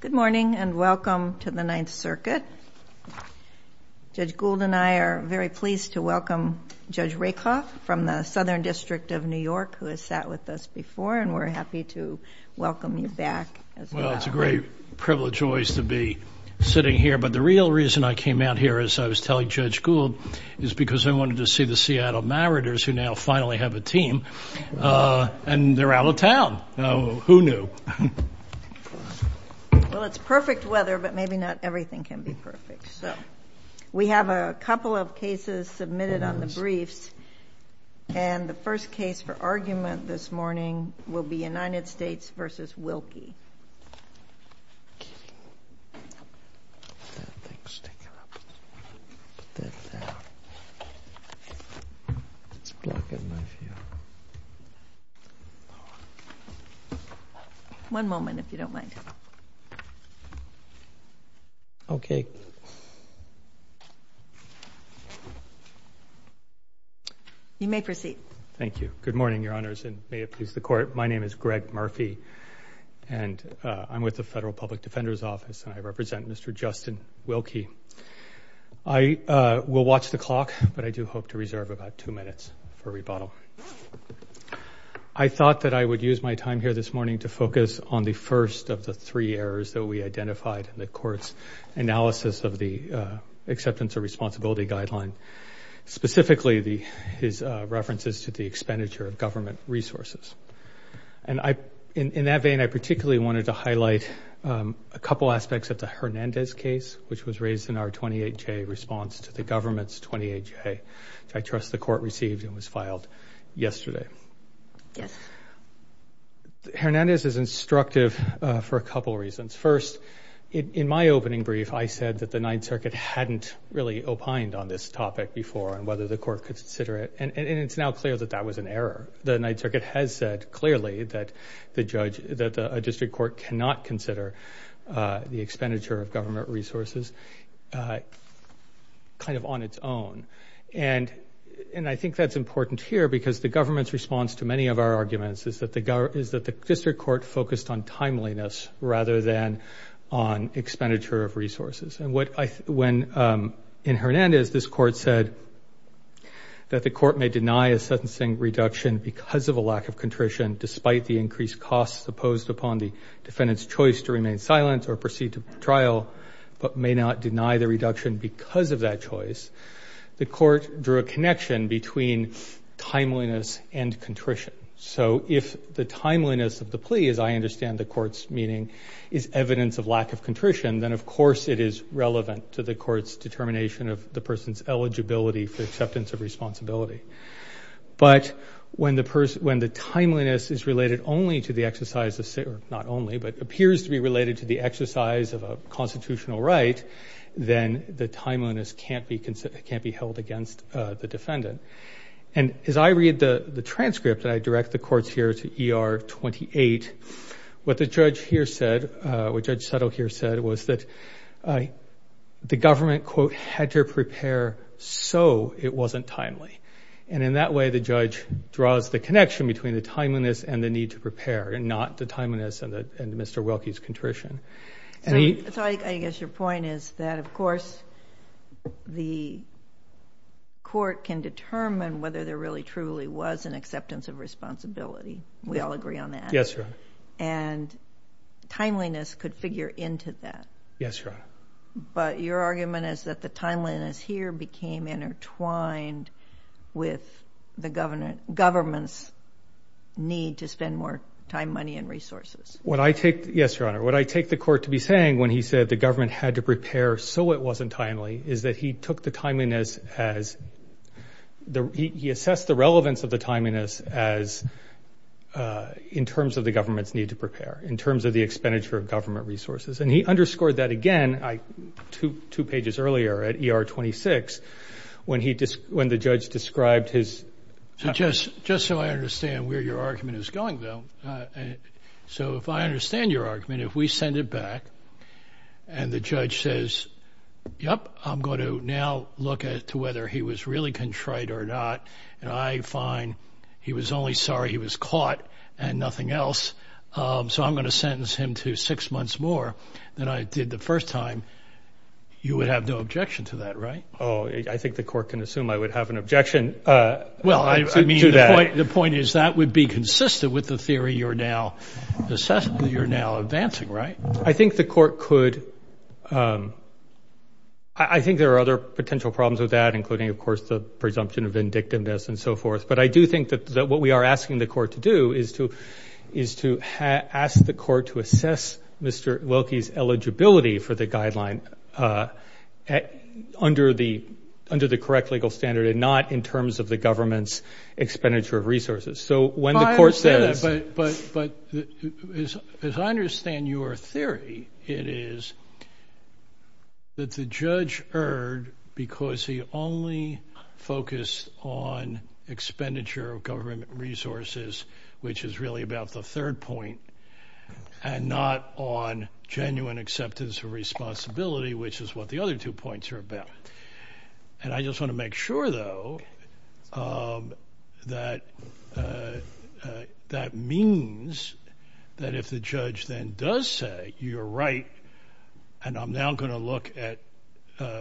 Good morning and welcome to the Ninth Circuit. Judge Gould and I are very pleased to welcome Judge Rakoff from the Southern District of New York who has sat with us before and we're happy to welcome you back. Well it's a great privilege always to be sitting here but the real reason I came out here as I was telling Judge Gould is because I wanted to see the Well it's perfect weather but maybe not everything can be perfect. We have a couple of cases submitted on the briefs and the first case for argument this morning will be United States v. Wilke. One moment if you don't mind. Okay. You may proceed. Thank you. Good morning Your Honor, I'm Judge Rakoff. I'm with the Federal Public Defender's Office and I represent Mr. Justin Wilke. I will watch the clock but I do hope to reserve about two minutes for rebuttal. I thought that I would use my time here this morning to focus on the first of the three errors that we identified in the Court's analysis of the Acceptance of Responsibility Guideline, specifically his references to the expenditure of government resources. And in that vein, I particularly wanted to highlight a couple aspects of the Hernandez case which was raised in our 28-J response to the government's 28-J which I trust the Court received and was filed yesterday. Hernandez is instructive for a couple reasons. First, in my opening brief I said that the Ninth Circuit hadn't really opined on this topic before and whether the Court could consider it. And it's now clear that that was an error. The Ninth Circuit has said clearly that a district court cannot consider the expenditure of government resources kind of on its own. And I think that's important here because the government's response to many of our arguments is that the district focused on timeliness rather than on expenditure of resources. And what I when in Hernandez this court said that the court may deny a sentencing reduction because of a lack of contrition despite the increased costs imposed upon the defendant's choice to remain silent or proceed to trial but may not deny the reduction because of that choice. The court drew a connection between timeliness and I understand the court's meaning is evidence of lack of contrition then of course it is relevant to the court's determination of the person's eligibility for acceptance of responsibility. But when the person when the timeliness is related only to the exercise of not only but appears to be related to the exercise of a constitutional right then the timeliness can't be considered can't be held against the defendant. And as I read the the transcript I direct the court's ER 28 what the judge here said what Judge Settle here said was that the government quote had to prepare so it wasn't timely. And in that way the judge draws the connection between the timeliness and the need to prepare and not the timeliness and that and Mr. Wilkie's contrition. So I guess your point is that of course the court can determine whether there really truly was an acceptance of responsibility. We all agree on that. Yes. And timeliness could figure into that. Yes. But your argument is that the timeliness here became intertwined with the government government's need to spend more time money and resources. What I take yes your honor what I take the court to be saying when he said the government had to prepare so it wasn't timely is that he took the timeliness as the he assessed the relevance of the timeliness as in terms of the government's need to prepare in terms of the expenditure of government resources and he underscored that again I to two pages earlier at ER 26 when he just when the judge described his just just so I understand where your argument is going though. So if I understand your argument if we send it back and the judge says yep I'm going to now look at to whether he was really contrite or not and I find he was only sorry he was caught and nothing else. So I'm going to sentence him to six months more than I did the first time. You would have no objection to that right. Oh I think the court can assume I would have an objection. Well I mean the point is that would be consistent with the theory you're now assessing you're now advancing right. I think the court could I think there are other potential problems with that including of course the presumption of indictiveness and so forth but I do think that that what we are asking the court to do is to is to ask the court to assess Mr. Wilkie's eligibility for the guideline under the under the correct legal standard and not in terms of the government's expenditure of resources. So when the court says but but but as I understand your theory it is that the judge erred because he only focused on expenditure of government resources which is really about the third point and not on genuine acceptance of responsibility which is what the other two points are about and I just want to make sure though that that means that if the judge then does say you're right and I'm now going to look at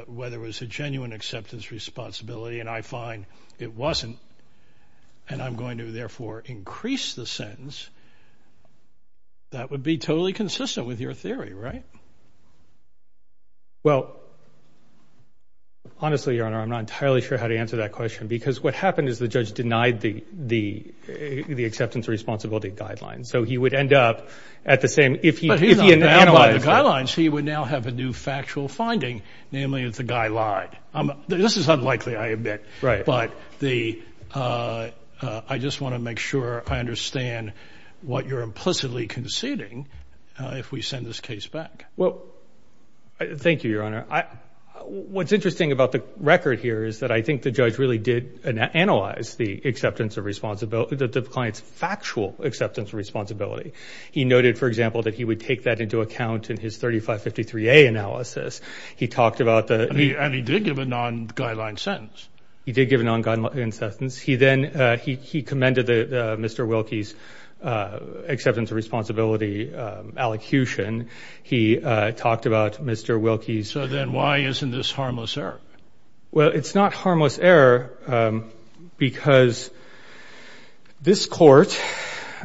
whether it was a genuine acceptance responsibility and I find it wasn't and I'm going to therefore increase the sentence that would be totally consistent with your theory right. Well honestly your honor I'm not entirely sure how to answer that question because what happened is the judge denied the the the acceptance responsibility guidelines so he would end up at the same if he if he analyzed the guidelines he would now have a new factual finding namely if the guy lied. I'm this is unlikely I admit right but the I just want to make sure I understand what you're implicitly conceding uh if we send this case back. Well thank you your honor. I what's interesting about the record here is that I think the judge really did analyze the acceptance of responsibility that the client's factual acceptance of responsibility. He noted for example that he would take that into account in his 3553a analysis. He talked about the and he did give a non-guideline sentence. He did give a non-guideline in sentence. He then he he commended the Mr. Wilkie's acceptance of responsibility allocution. He talked about Mr. Wilkie's. So then why isn't this harmless error? Well it's not harmless error because this court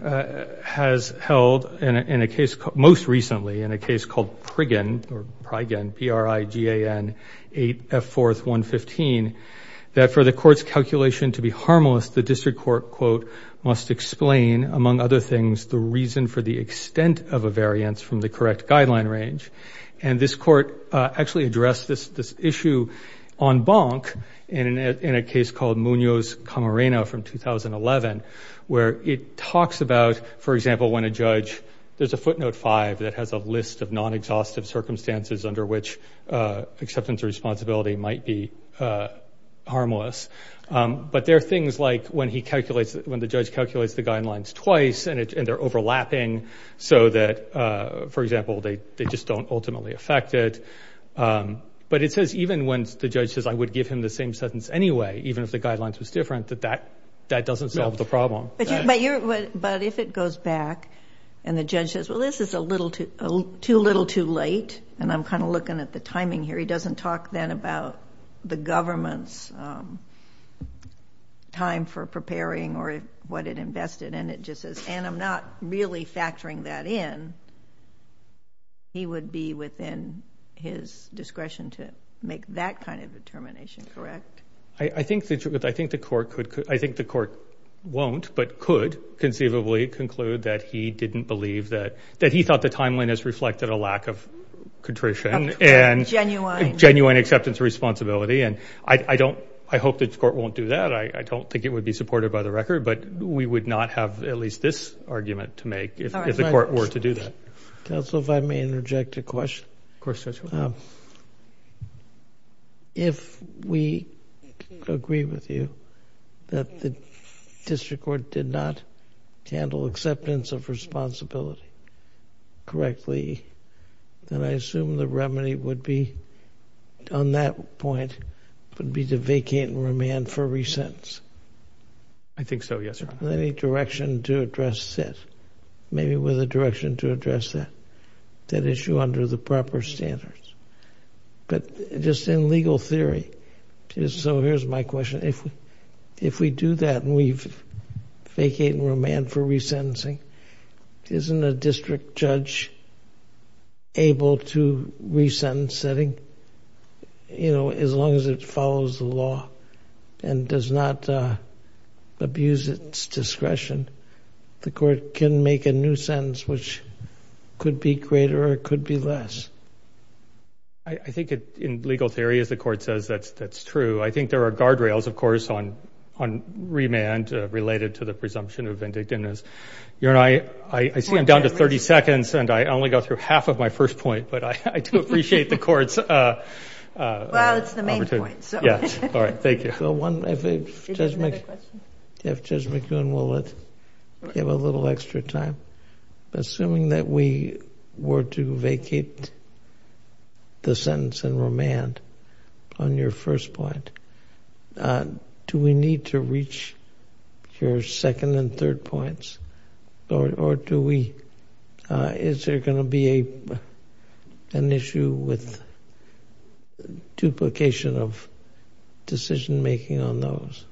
has held in a case most recently in a case called Prigan or Prigan P-R-I-G-A-N-8-F-4-1-15 that for the court's calculation to be harmless the district court quote must explain among other things the reason for the extent of a variance from the correct guideline range and this court actually addressed this this issue on bonk in a case called Munoz Camarena from 2011 where it talks about for example when a judge there's a footnote five that has a list of non-exhaustive circumstances under which acceptance or responsibility might be harmless but there are things like when he calculates when the judge calculates the guidelines twice and they're overlapping so that for example they they just don't ultimately affect it but it says even when the judge says I would give him the same sentence anyway even if the guidelines was different that that that doesn't solve the problem. But if it goes back and the too little too late and I'm kind of looking at the timing here he doesn't talk then about the government's time for preparing or what it invested and it just says and I'm not really factoring that in he would be within his discretion to make that kind of determination correct? I think that I think the court could I think the court won't but could conceivably conclude that he didn't believe that that he thought the timeline has reflected a lack of contrition and genuine acceptance responsibility and I don't I hope that the court won't do that I don't think it would be supported by the record but we would not have at least this argument to make if the court were to do that. Counsel if I may interject a question. Of course Judge. If we agree with you that the district court did not handle acceptance of responsibility correctly then I assume the remedy would be on that point would be to vacate and remand for re-sentence. I think so yes. Any direction to address that maybe with a direction to address that issue under the proper standards but just in legal theory so here's my question if we if we do that and we've vacated and remanded for re-sentencing isn't a district judge able to re-sentence setting you know as long as it follows the law and does not could be greater or could be less. I think it in legal theory as the court says that's that's true I think there are guardrails of course on on remand related to the presumption of vindictiveness you and I I see I'm down to 30 seconds and I only go through half of my first point but I I do appreciate the court's uh uh well it's the main point so yes all right thank you. If Judge McEwen will give a little extra time assuming that we were to vacate the sentence and remand on your first point uh do we need to reach your second and third points or or do we uh is there going to be a an issue with duplication of decision making on those?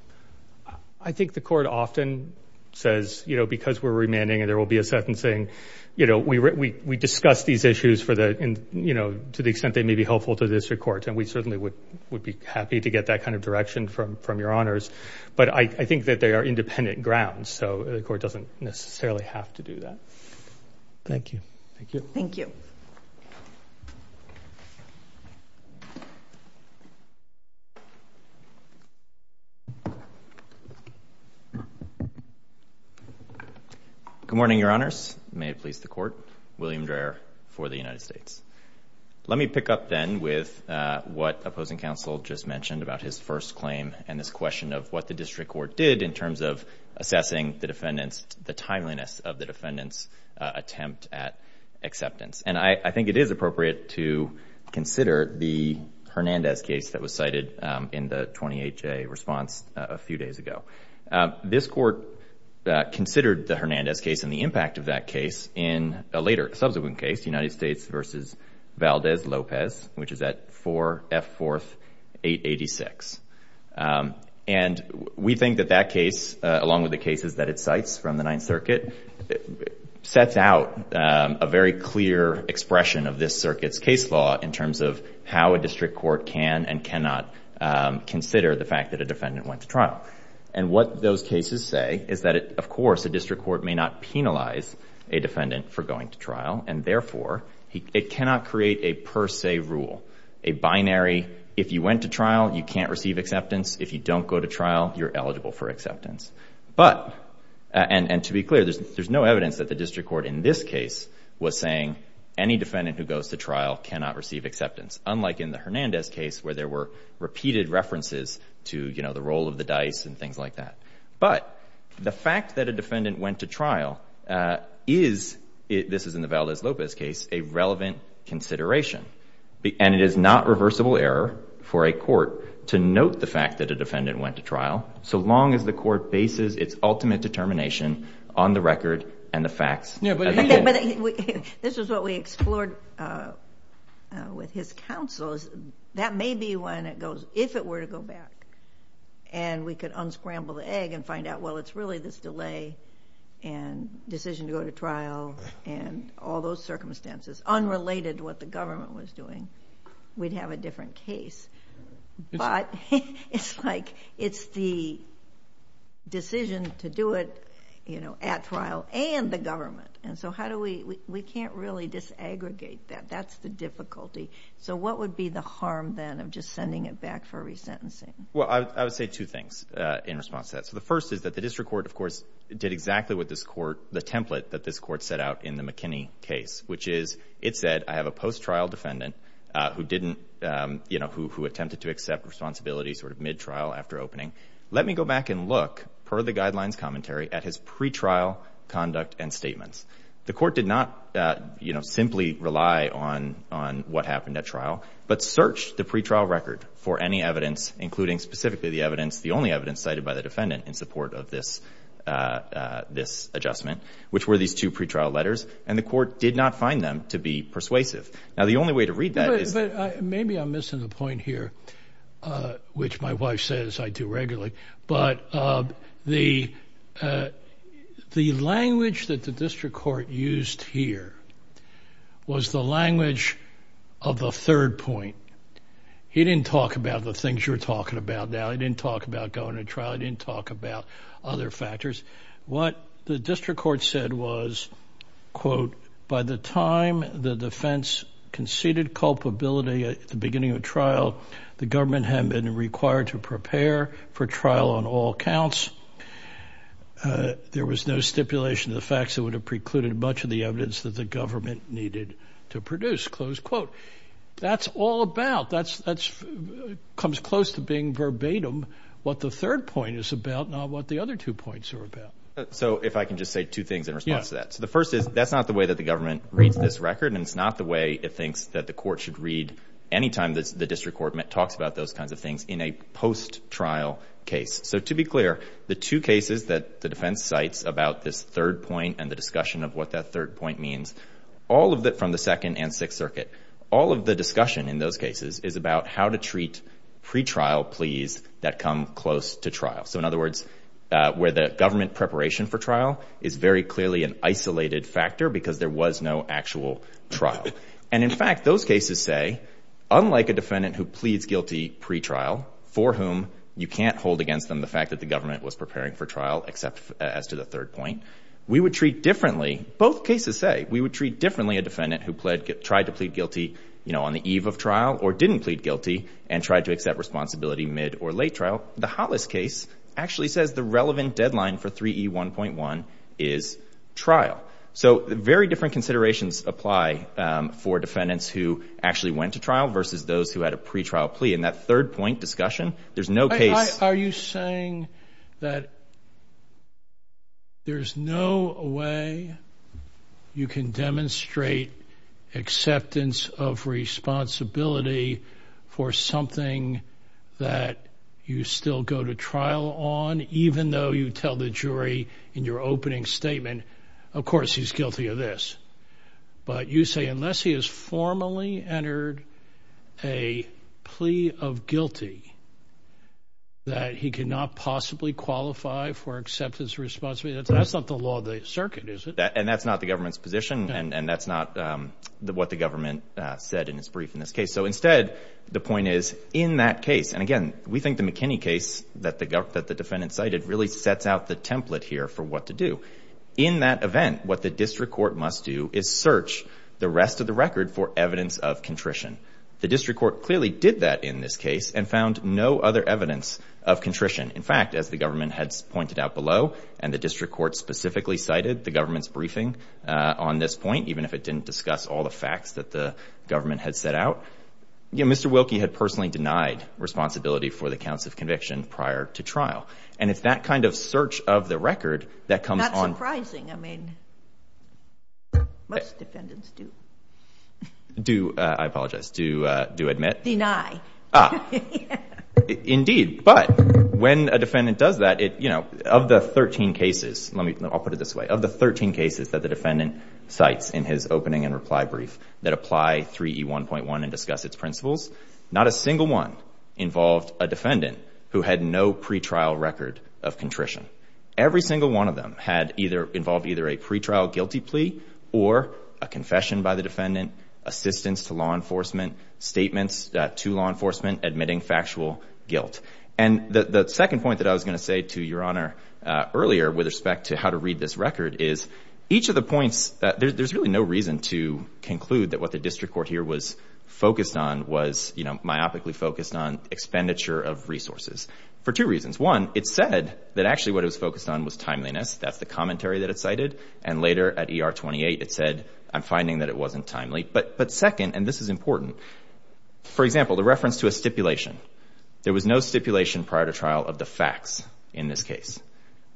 I think the court often says you know because we're remanding and there will be a sentencing you know we we discuss these issues for the and you know to the extent they may be helpful to this court and we certainly would would be happy to get that kind of direction from from your honors but I think that they are independent grounds so the necessarily have to do that. Thank you. Thank you. Thank you. Good morning your honors. May it please the court. William Dreher for the United States. Let me pick up then with uh what opposing counsel just mentioned about his first claim and this question of what the district court did in terms of assessing the defendants the timeliness of the defendants attempt at acceptance and I think it is appropriate to consider the Hernandez case that was cited in the 28-J response a few days ago. This court considered the Hernandez case and the impact of that case in a later subsequent case United States versus Valdez which is at 4 F 4th 886 and we think that that case along with the cases that it cites from the ninth circuit sets out a very clear expression of this circuit's case law in terms of how a district court can and cannot consider the fact that a defendant went to trial and what those cases say is that it of course a district court may not penalize a defendant for going to trial and therefore he it cannot create a per se rule a binary if you went to trial you can't receive acceptance if you don't go to trial you're eligible for acceptance but and and to be clear there's there's no evidence that the district court in this case was saying any defendant who goes to trial cannot receive acceptance unlike in the Hernandez case where there were repeated references to you know the roll of the dice and things like that but the fact that a defendant went to trial uh is this is in the Valdez Lopez case a relevant consideration and it is not reversible error for a court to note the fact that a defendant went to trial so long as the court bases its ultimate determination on the record and the facts yeah but this is what we explored uh with his counsels that may be when it goes if it were to go back and we could unscramble the egg and find out well it's really this delay and decision to go to trial and all those circumstances unrelated to what the government was doing we'd have a different case but it's like it's the decision to do it you know at trial and the government and so how do we we can't really disaggregate that that's the difficulty so what would be the harm then of just sending it back for resentencing well i would say two things uh in response to that so the first is that the district court of course did exactly what this court the template that this court set out in the mckinney case which is it said i have a post-trial defendant uh who didn't um you know who attempted to accept responsibility sort of mid-trial after opening let me go back and look per the guidelines commentary at his pre-trial conduct and statements the court did not uh you simply rely on on what happened at trial but searched the pre-trial record for any evidence including specifically the evidence the only evidence cited by the defendant in support of this uh this adjustment which were these two pre-trial letters and the court did not find them to be persuasive now the only way to read that is maybe i'm missing the point here uh which my wife says i do regularly but uh the uh the language that the district court used here was the language of the third point he didn't talk about the things you're talking about now he didn't talk about going to trial he didn't talk about other factors what the district court said was quote by the time the defense conceded culpability at the beginning of trial the government had been required to prepare for trial on all counts uh there was no stipulation of the facts that would have precluded much of the evidence that the government needed to produce close quote that's all about that's that's comes close to being verbatim what the third point is about not what the other two points are about so if i can just say two things in response to that so the first is that's not the way that the government reads this record and it's not the way it thinks that the court should read anytime the district court talks about those kinds of things in a post-trial case so to be clear the two cases that the defense cites about this third point and the discussion of what that third point means all of that from the second and sixth circuit all of the discussion in those cases is about how to treat pre-trial pleas that come close to trial so in other words uh where the government preparation for trial is very clearly an isolated factor because there was no actual trial and in fact those cases say unlike a defendant who pleads guilty pre-trial for whom you can't hold against them the fact that the government was preparing for trial except as to the third point we would treat differently both cases say we would treat differently a defendant who pled tried to plead guilty you know on the eve of trial or didn't plead guilty and tried to accept responsibility mid or late trial the hollis case actually says the relevant deadline for 3e 1.1 is trial so very different considerations apply for defendants who actually went to trial versus those who had a pre-trial plea and that third point discussion there's no case are you saying that there's no way you can demonstrate acceptance of responsibility for something that you still go to trial on even though you tell the jury in your opening statement of course he's guilty of this but you say unless he has formally entered a plea of guilty that he cannot possibly qualify for acceptance of responsibility that's not the law of the circuit is it and that's not the government's position and and that's not um what the we think the mckinney case that the gov that the defendant cited really sets out the template here for what to do in that event what the district court must do is search the rest of the record for evidence of contrition the district court clearly did that in this case and found no other evidence of contrition in fact as the government had pointed out below and the district court specifically cited the government's briefing uh on this point even if it didn't discuss all the responsibility for the counts of conviction prior to trial and it's that kind of search of the record that comes not surprising i mean most defendants do do uh i apologize do uh do admit deny ah indeed but when a defendant does that it you know of the 13 cases let me i'll put it this way of the 13 cases that the defendant cites in his opening and reply brief that apply 3e 1.1 and discuss its principles not a single one involved a defendant who had no pre-trial record of contrition every single one of them had either involved either a pre-trial guilty plea or a confession by the defendant assistance to law enforcement statements to law enforcement admitting factual guilt and the the second point that i was going to say to your honor earlier with respect to how to read this record is each of the points that there's really no reason to conclude that what the district court here was focused on was you know myopically focused on expenditure of resources for two reasons one it said that actually what it was focused on was timeliness that's the commentary that it cited and later at er 28 it said i'm finding that it wasn't timely but but second and this is important for example the reference to a stipulation there was no stipulation prior to trial of the facts in this case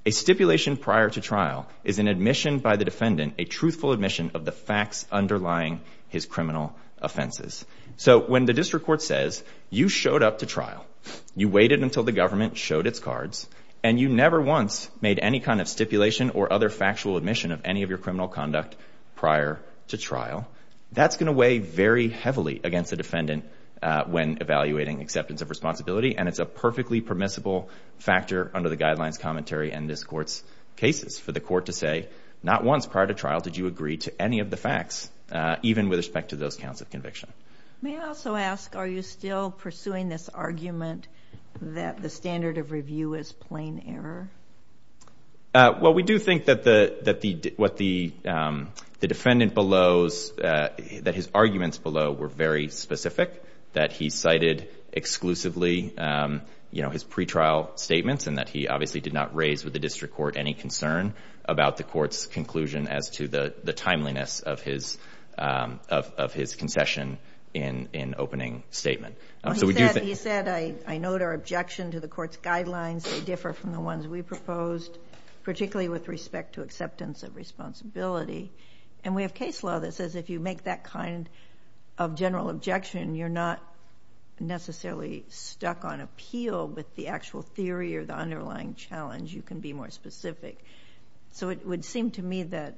a stipulation prior to trial is an by the defendant a truthful admission of the facts underlying his criminal offenses so when the district court says you showed up to trial you waited until the government showed its cards and you never once made any kind of stipulation or other factual admission of any of your criminal conduct prior to trial that's going to weigh very heavily against the defendant when evaluating acceptance of responsibility and it's a perfectly permissible factor under the guidelines commentary and this court's cases for the court to say not once prior to trial did you agree to any of the facts uh even with respect to those counts of conviction may i also ask are you still pursuing this argument that the standard of review is plain error uh well we do think that the that the what the um the defendant belows uh that his arguments below were very specific that he cited exclusively you know his pre-trial statements and that he obviously did not raise with the district court any concern about the court's conclusion as to the the timeliness of his um of of his concession in in opening statement so we do that he said i i note our objection to the court's guidelines they differ from the ones we proposed particularly with respect to acceptance of responsibility and we have case law that says if you make that kind of general objection you're not necessarily stuck on appeal with the actual theory or the underlying challenge you can be more specific so it would seem to me that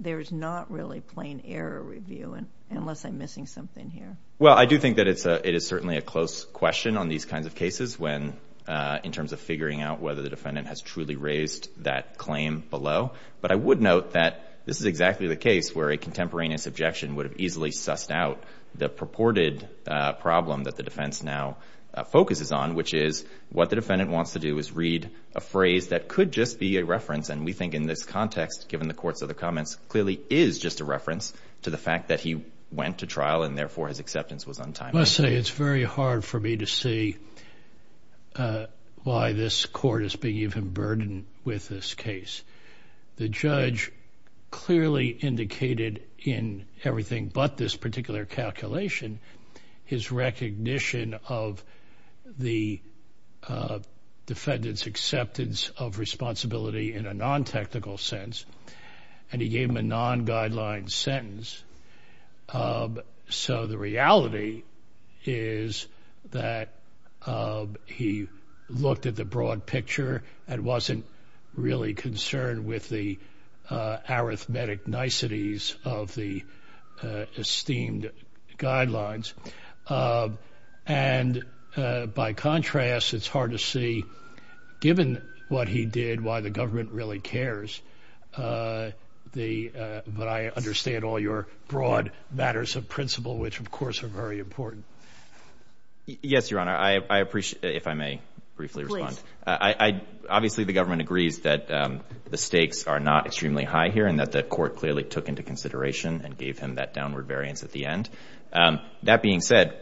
there's not really plain error review and unless i'm missing something here well i do think that it's a it is certainly a close question on these kinds of cases when uh in terms of figuring out whether the defendant has truly raised that claim below but i would note that this is exactly the case where a contemporaneous objection would have the defense now focuses on which is what the defendant wants to do is read a phrase that could just be a reference and we think in this context given the court's other comments clearly is just a reference to the fact that he went to trial and therefore his acceptance was untimely let's say it's very hard for me to see uh why this court is being even burdened with this case the judge clearly indicated in everything but this particular calculation his recognition of the defendant's acceptance of responsibility in a non-technical sense and he gave him a non-guideline sentence so the reality is that he looked at the broad picture and wasn't really concerned with the arithmetic niceties of the esteemed guidelines and by contrast it's hard to see given what he did why the government really cares uh the but i understand all your broad matters of principle which of course are very important yes your honor i i appreciate if i may briefly respond i i hear and that the court clearly took into consideration and gave him that downward variance at the end um that being said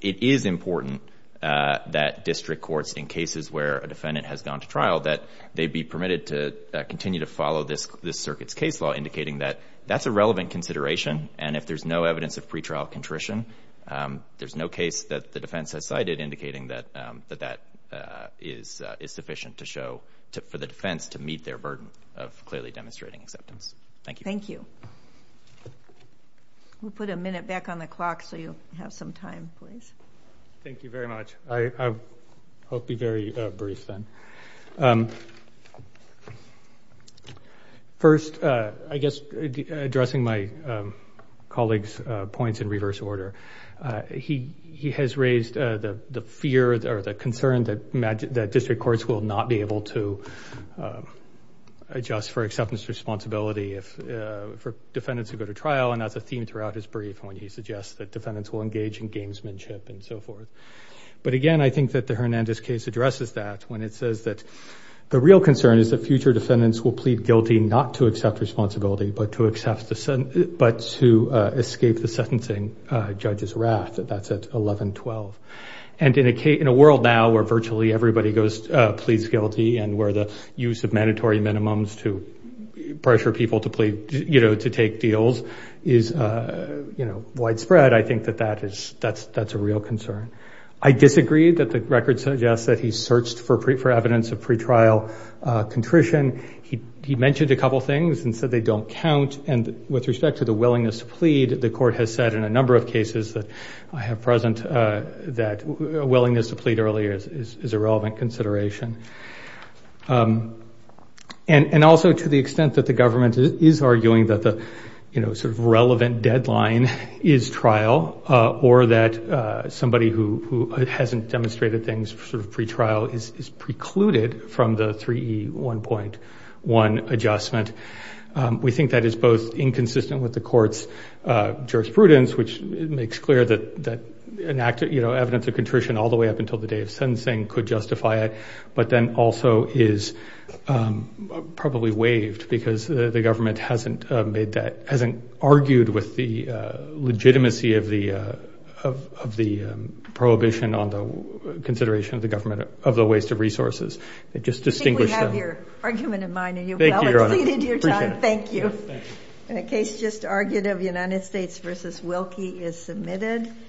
it is important uh that district courts in cases where a defendant has gone to trial that they'd be permitted to continue to follow this this circuit's case law indicating that that's a relevant consideration and if there's no evidence of pretrial contrition um there's no case that the defense has cited indicating that um that that is is sufficient to show to for the defense to meet their burden of clearly demonstrating acceptance thank you thank you we'll put a minute back on the clock so you'll have some time please thank you very much i i'll be very uh brief then um first uh i guess addressing my um colleagues uh points in reverse order uh he he has raised uh the fear or the concern that magic that district courts will not be able to adjust for acceptance responsibility if uh for defendants who go to trial and that's a theme throughout his brief when he suggests that defendants will engage in gamesmanship and so forth but again i think that the hernandez case addresses that when it says that the real concern is that future defendants will plead guilty not to accept responsibility but to accept the son but to escape the sentencing uh judge's wrath that's at 11 12 and in a case in a world now where virtually everybody goes uh pleads guilty and where the use of mandatory minimums to pressure people to plead you know to take deals is uh you know widespread i think that that is that's that's a real concern i disagreed that the record suggests that he searched for pre for evidence of pretrial uh contrition he he mentioned a couple things and said they don't count and with respect to the willingness to plead the court has said in a number of cases that i have present uh that a willingness to plead earlier is a relevant consideration um and and also to the extent that the government is arguing that the you know sort of relevant deadline is trial uh or that uh somebody who who hasn't demonstrated things sort of pre-trial is precluded from the 3e 1.1 adjustment um we think that is both inconsistent with the court's uh jurisprudence which makes clear that that enacted you know evidence of contrition all the way up until the day of sentencing could justify it but then also is um probably waived because the government hasn't made that hasn't argued with the uh legitimacy of the uh of of the prohibition on the consideration of the government of the waste of resources they just distinguish we have your argument in mind and you've exceeded your time thank you in a case just argued of united states versus wilkie is submitted